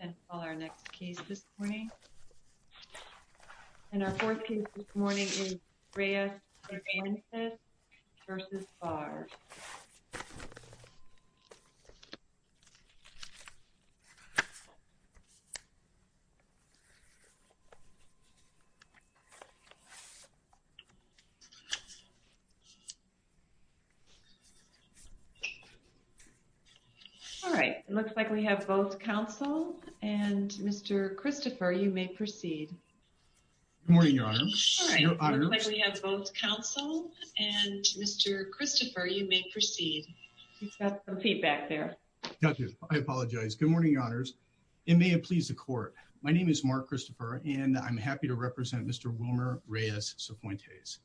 and call our next case this morning and our fourth case this morning is Reyes versus Barr all right it looks like we have both counsel and mr. Christopher you may proceed good morning your honor it may have pleased the court my name is Mark Christopher and I'm happy to represent mr. Wilmer Reyes so point is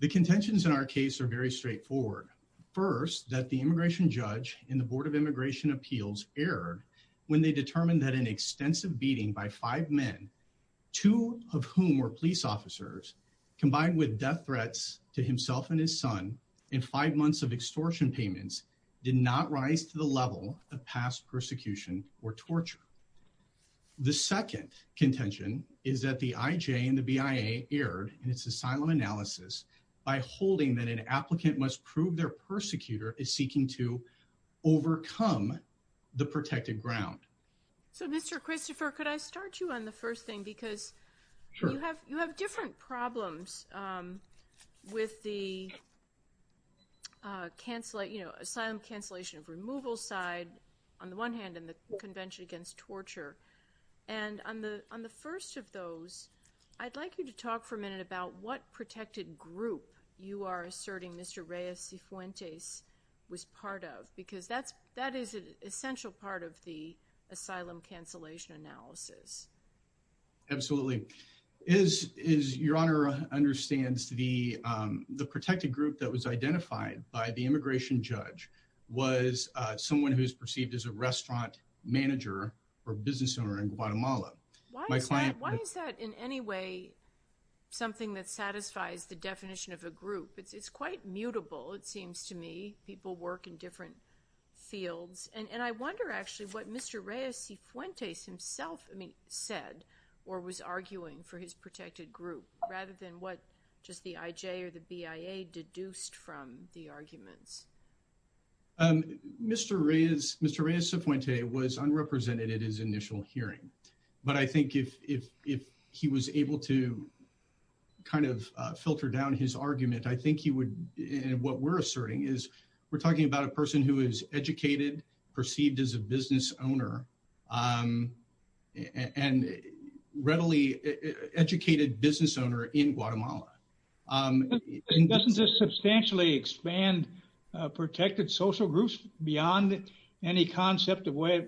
the contentions in our case are very straightforward first that the immigration judge in the Board of Immigration Appeals erred when they determined that an extensive beating by five men two of whom were police officers combined with death threats to himself and his son in five months of extortion payments did not rise to the level of past persecution or torture the second contention is that the IJ and the BIA erred in its asylum analysis by holding that an applicant must prove their persecutor is seeking to overcome the protected ground so mr. Christopher could I start you on the first thing because you have you have different problems with the cancelling you know asylum cancellation of removal side on the one hand in the Convention against torture and on the on the first of those I'd like you to talk for a minute about what protected group you are asserting mr. Reyes see Fuentes was part of because that's that is an essential part of the asylum cancellation analysis absolutely is is your honor understands the the protected group that was identified by the immigration judge was someone who's perceived as a restaurant manager or business owner in Guatemala my client why is that in any way something that satisfies the definition of a group it's it's quite mutable it fields and and I wonder actually what mr. Reyes see Fuentes himself I mean said or was arguing for his protected group rather than what just the IJ or the BIA deduced from the arguments mr. Reyes mr. Reyes appointee was unrepresented at his initial hearing but I think if if if he was able to kind of filter down his argument I think he would and what we're asserting is we're asserting that he was educated perceived as a business owner and readily educated business owner in Guatemala doesn't just substantially expand protected social groups beyond any concept of way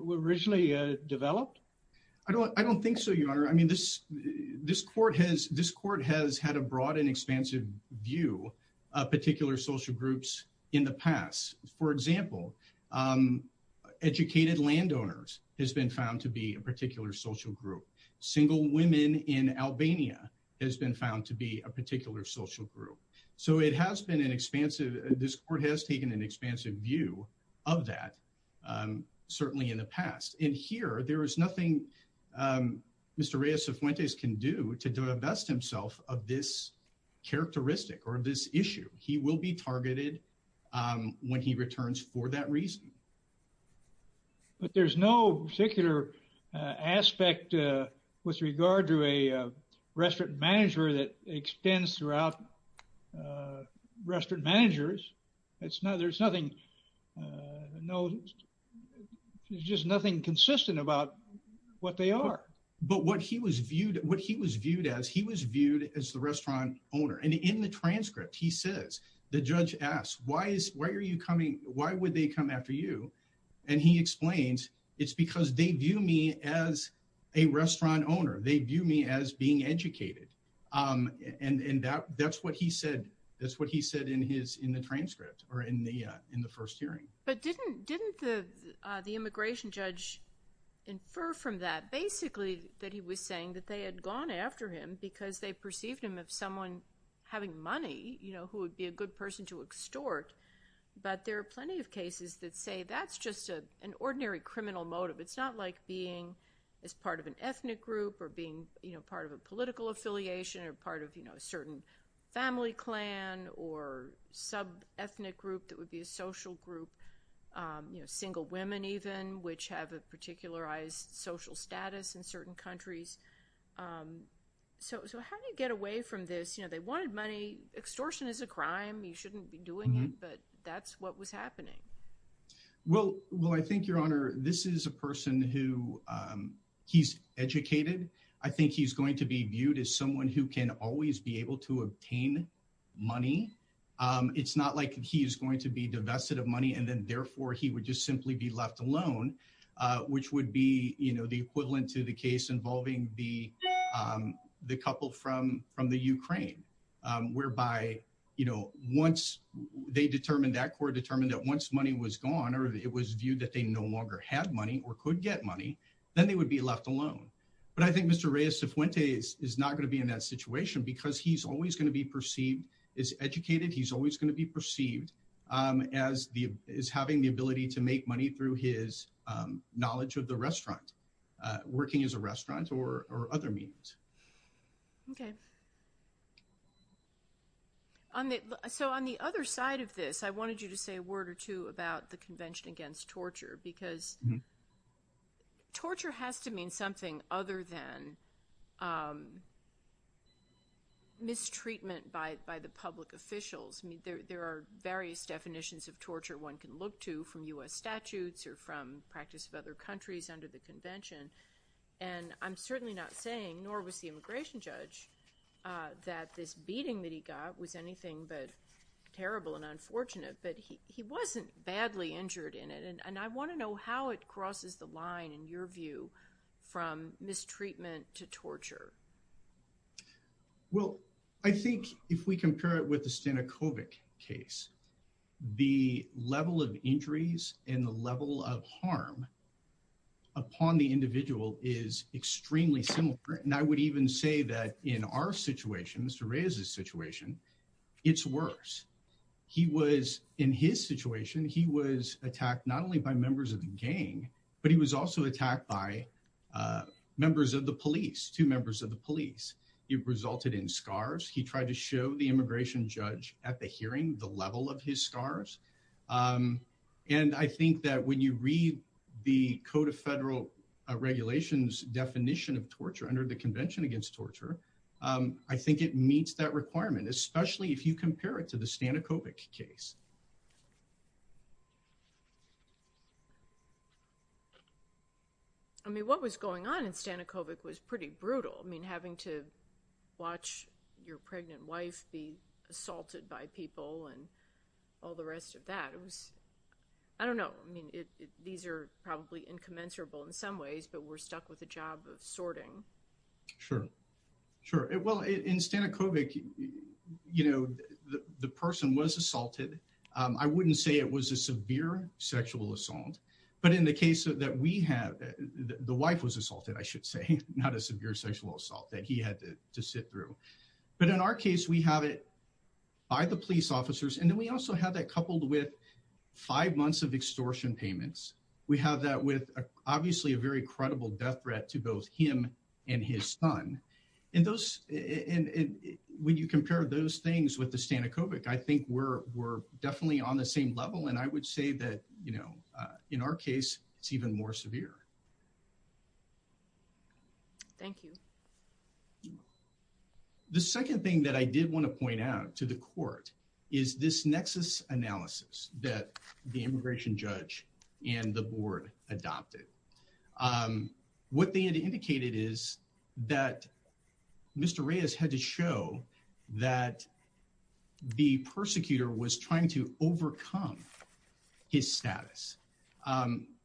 we originally developed I don't I don't think so your honor I mean this this court has this court has had a broad and view of particular social groups in the past for example educated landowners has been found to be a particular social group single women in Albania has been found to be a particular social group so it has been an expansive this court has taken an expansive view of that certainly in the past in here there is nothing mr. Reyes of Fuentes can do to divest himself of this characteristic or this issue he will be targeted when he returns for that reason but there's no particular aspect with regard to a restaurant manager that extends throughout restaurant managers it's not there's nothing no there's just nothing consistent about what they are but what he was viewed what he was viewed as he was viewed as the restaurant owner and in the transcript he says the judge asked why is why are you coming why would they come after you and he explains it's because they view me as a restaurant owner they view me as being educated and that that's what he said that's what he said in his in the transcript or in the in the first hearing but didn't didn't the the immigration judge infer from that basically that he was saying that they had gone after him because they perceived him of someone having money you know who would be a good person to extort but there are plenty of cases that say that's just a an ordinary criminal motive it's not like being as part of an ethnic group or being you know part of a political affiliation or part of you know a certain family clan or sub ethnic group that would be a which have a particularized social status in certain countries so how do you get away from this you know they wanted money extortion is a crime you shouldn't be doing it but that's what was happening well well I think your honor this is a person who he's educated I think he's going to be viewed as someone who can always be able to obtain money it's not like he is going to be left alone which would be you know the equivalent to the case involving the the couple from from the Ukraine whereby you know once they determined that court determined that once money was gone or it was viewed that they no longer had money or could get money then they would be left alone but I think mr. Reyes if when days is not going to be in that situation because he's always going to be perceived as educated he's always going to be perceived as the is having the ability to make money through his knowledge of the restaurant working as a restaurant or other means okay on it so on the other side of this I wanted you to say a word or two about the Convention against torture because torture has to mean something other than mistreatment by the public officials I mean there are various definitions of from US statutes or from practice of other countries under the convention and I'm certainly not saying nor was the immigration judge that this beating that he got was anything but terrible and unfortunate but he wasn't badly injured in it and I want to know how it crosses the line in your view from mistreatment to torture well I think if we compare it with the in the level of harm upon the individual is extremely similar and I would even say that in our situation mr. Reyes this situation it's worse he was in his situation he was attacked not only by members of the gang but he was also attacked by members of the police two members of the police it resulted in scars he tried to show the immigration judge at the hearing the level of his scars and I think that when you read the Code of Federal Regulations definition of torture under the Convention against torture I think it meets that requirement especially if you compare it to the stanikovic case I mean what was going on in stanikovic was pretty brutal I mean having to watch your pregnant wife be assaulted by people and all the rest of that it was I don't know I mean it these are probably incommensurable in some ways but we're stuck with a job of sorting sure sure well in stanikovic you know the person was assaulted I wouldn't say it was a severe sexual assault but in the case that we have the wife was assaulted I should say not a severe sexual assault that he had to sit through but in our case we have it by the police officers and then we also have that coupled with five months of extortion payments we have that with obviously a very credible death threat to both him and his son in those and when you compare those things with the stanikovic I think we're we're definitely on the same level and I would say that you know in our case it's even more severe thank you the second thing that I did want to point out to the court is this nexus analysis that the immigration judge and the board adopted what they had indicated is that mr. Reyes had to show that the persecutor was trying to overcome his status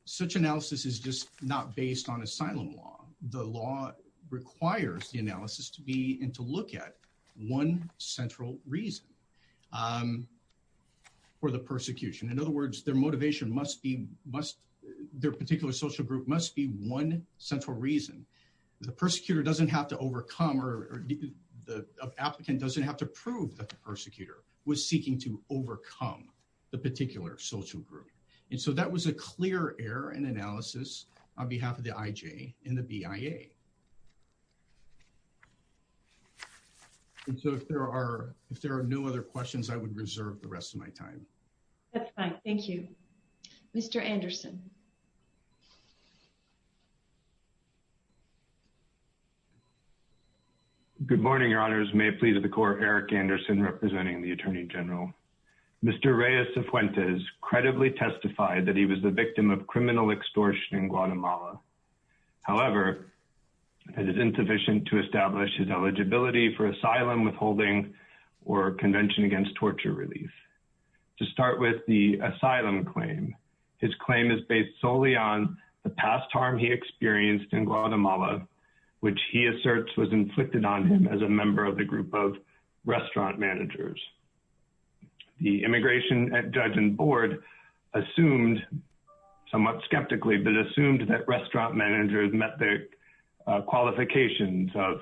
such analysis is just not based on asylum law the law requires the analysis to be and to look at one central reason for the persecution in other words their motivation must be must their particular social group must be one central reason the persecutor doesn't have to overcome or the applicant doesn't have to prove that the overcome the particular social group and so that was a clear air and analysis on behalf of the IJ in the BIA and so if there are if there are no other questions I would reserve the rest of my time thank you mr. Anderson good morning your honors may please of the court Eric Anderson representing the Mr. Reyes Fuentes credibly testified that he was the victim of criminal extortion in Guatemala however it is insufficient to establish his eligibility for asylum withholding or convention against torture relief to start with the asylum claim his claim is based solely on the past harm he experienced in Guatemala which he asserts was inflicted on him as a member of the group of restaurant managers the immigration judge and board assumed somewhat skeptically but assumed that restaurant managers met their qualifications of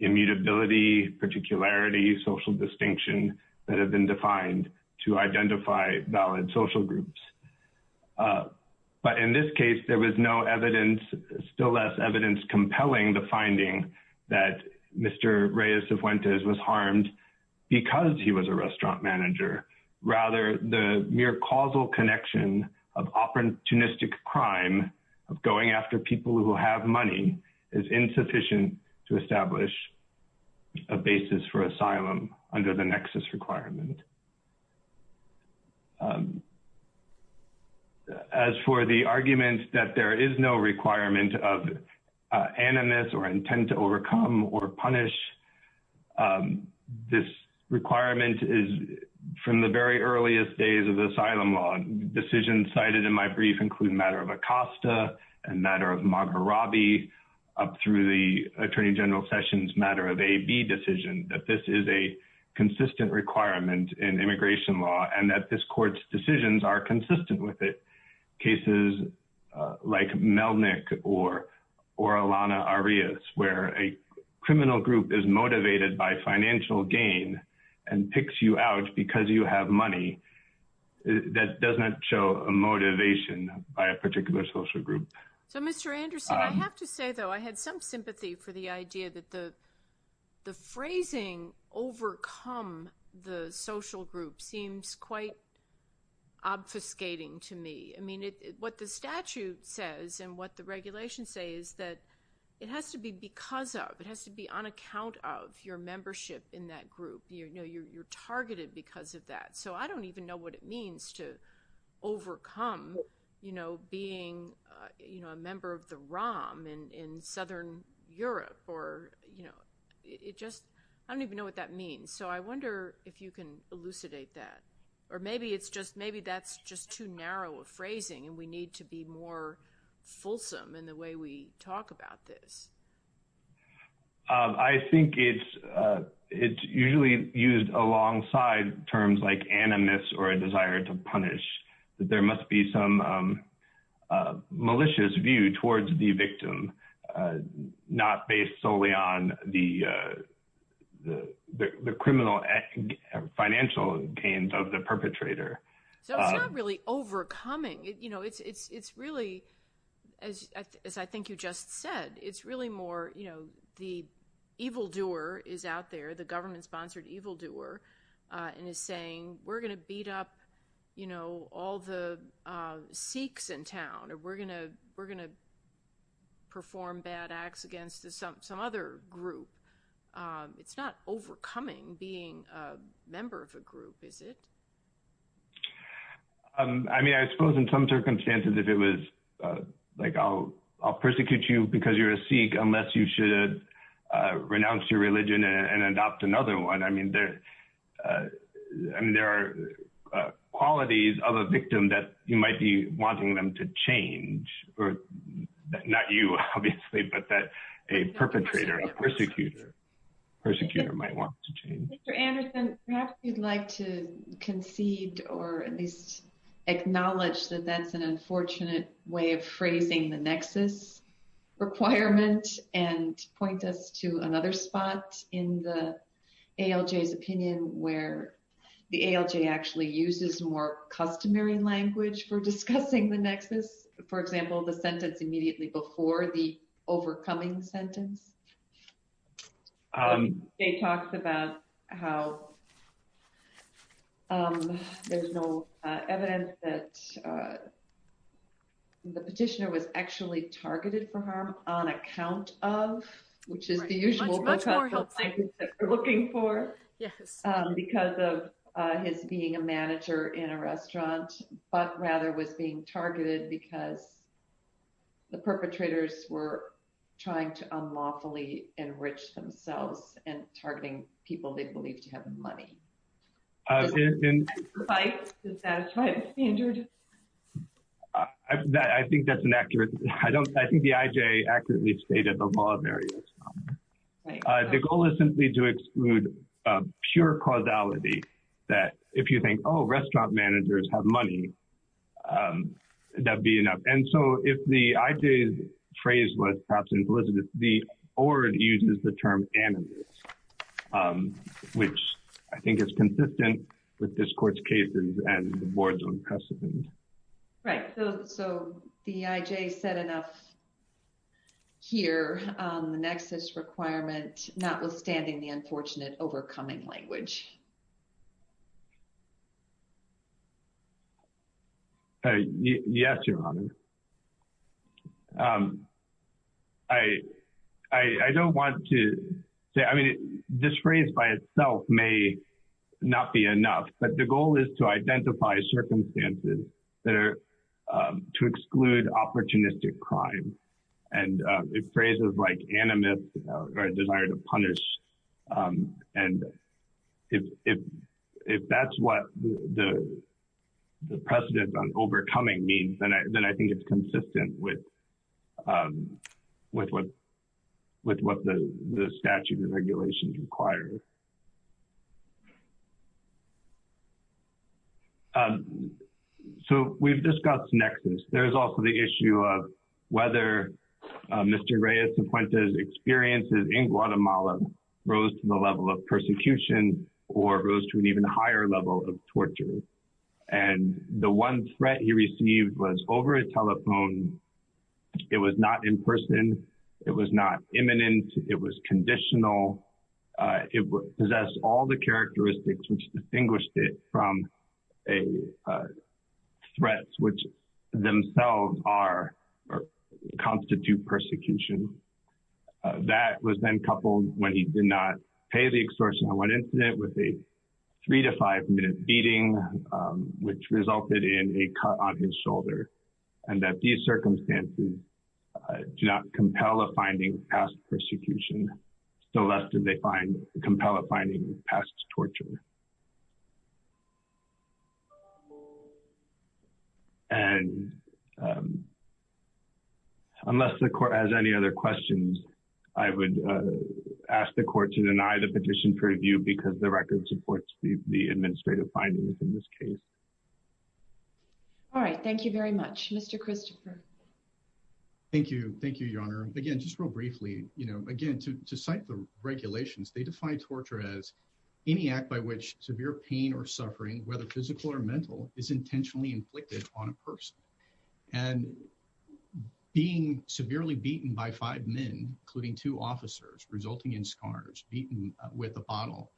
immutability particularity social distinction that have been defined to identify valid social groups but in this case there was no evidence still less evidence compelling the finding that mr. Reyes Fuentes was harmed because he was a restaurant manager rather the mere causal connection of opportunistic crime of going after people who have money is insufficient to establish a basis for asylum under the nexus requirement as for the argument that there is no requirement of animus or intent to overcome or punish this requirement is from the very earliest days of the asylum law decisions cited in my brief include matter of Acosta and matter of Margarabi up through the Attorney General Sessions matter of a B decision that this is a consistent requirement in immigration law and that this court's decisions are consistent with it cases like Melnick or or Alana Arias where a criminal group is motivated by financial gain and picks you out because you have money that doesn't show a motivation by a particular social group so mr. Anderson I have to say though I had some sympathy for the idea that the the phrasing overcome the social group seems quite obfuscating to me I mean it what the statute says and what the regulation say is that it has to be because of it has to be on account of your membership in that group you know you're targeted because of that so I don't even know what it means to overcome you know being you know a member of the ROM and in southern Europe or you know it just I don't even know what that means so I or maybe it's just maybe that's just too narrow a phrasing and we need to be more fulsome in the way we talk about this I think it's it's usually used alongside terms like animus or a desire to punish that there must be some malicious view towards the victim not based solely on the the criminal financial gains of the perpetrator so it's not really overcoming it you know it's it's it's really as I think you just said it's really more you know the evildoer is out there the government-sponsored evildoer and is saying we're gonna beat up you know all the Sikhs in town or we're gonna we're gonna perform bad acts against some other group it's not overcoming being member of a group is it I mean I suppose in some circumstances if it was like oh I'll persecute you because you're a Sikh unless you should renounce your religion and adopt another one I mean there and there are qualities of a victim that you might be wanting them to change or not you obviously but that a perhaps you'd like to concede or at least acknowledge that that's an unfortunate way of phrasing the nexus requirement and point us to another spot in the ALJ's opinion where the ALJ actually uses more customary language for discussing the nexus for example the sentence immediately before the there's no evidence that the petitioner was actually targeted for harm on account of which is the usual looking for yes because of his being a manager in a restaurant but rather was being targeted because the perpetrators were trying to unlawfully enrich themselves and targeting people they believe to have money I think that's an accurate I don't I think the IJ accurately stated the law of areas the goal is simply to exclude pure causality that if you think Oh restaurant managers have money that'd be enough and so if the IJ phrase was perhaps implicit the or it uses the term animals which I think is consistent with this court's cases and the boards on precedent right so the IJ said enough here the nexus requirement notwithstanding the unfortunate overcoming language yes your honor I I don't want to say I mean this phrase by itself may not be enough but the goal is to identify circumstances that are to exclude opportunistic crime and if phrases like animus or a desire to and if if that's what the the precedent on overcoming means then I think it's consistent with with what with what the statute of regulations requires so we've discussed nexus there's also the issue of whether mr. Reyes appointed experiences in Guatemala rose to the level of persecution or rose to an even higher level of torture and the one threat he received was over a telephone it was not in person it was not imminent it was conditional it possessed all the characteristics which distinguished it from a threats which themselves are constitute persecution that was then coupled when he did not pay the extortion on one incident with a three to five minute beating which resulted in a cut on his shoulder and that these circumstances do not compel a finding past persecution so that did they find compel a finding past torture and unless the court has any other questions I would ask the court to deny the petition for review because the record supports the administrative findings in this case all right thank you very much mr. Christopher thank you thank you your again just real briefly you know again to cite the regulations they define torture as any act by which severe pain or suffering whether physical or mental is intentionally inflicted on a person and being severely beaten by five men including two officers resulting in scars beaten with a bottle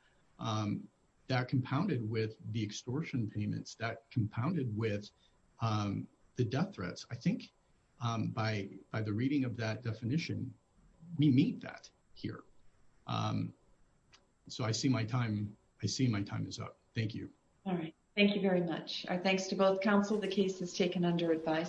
that compounded with the extortion payments that compounded with the death threats I by the reading of that definition we meet that here so I see my time I see my time is up thank you all right thank you very much our thanks to both council the case has taken under advice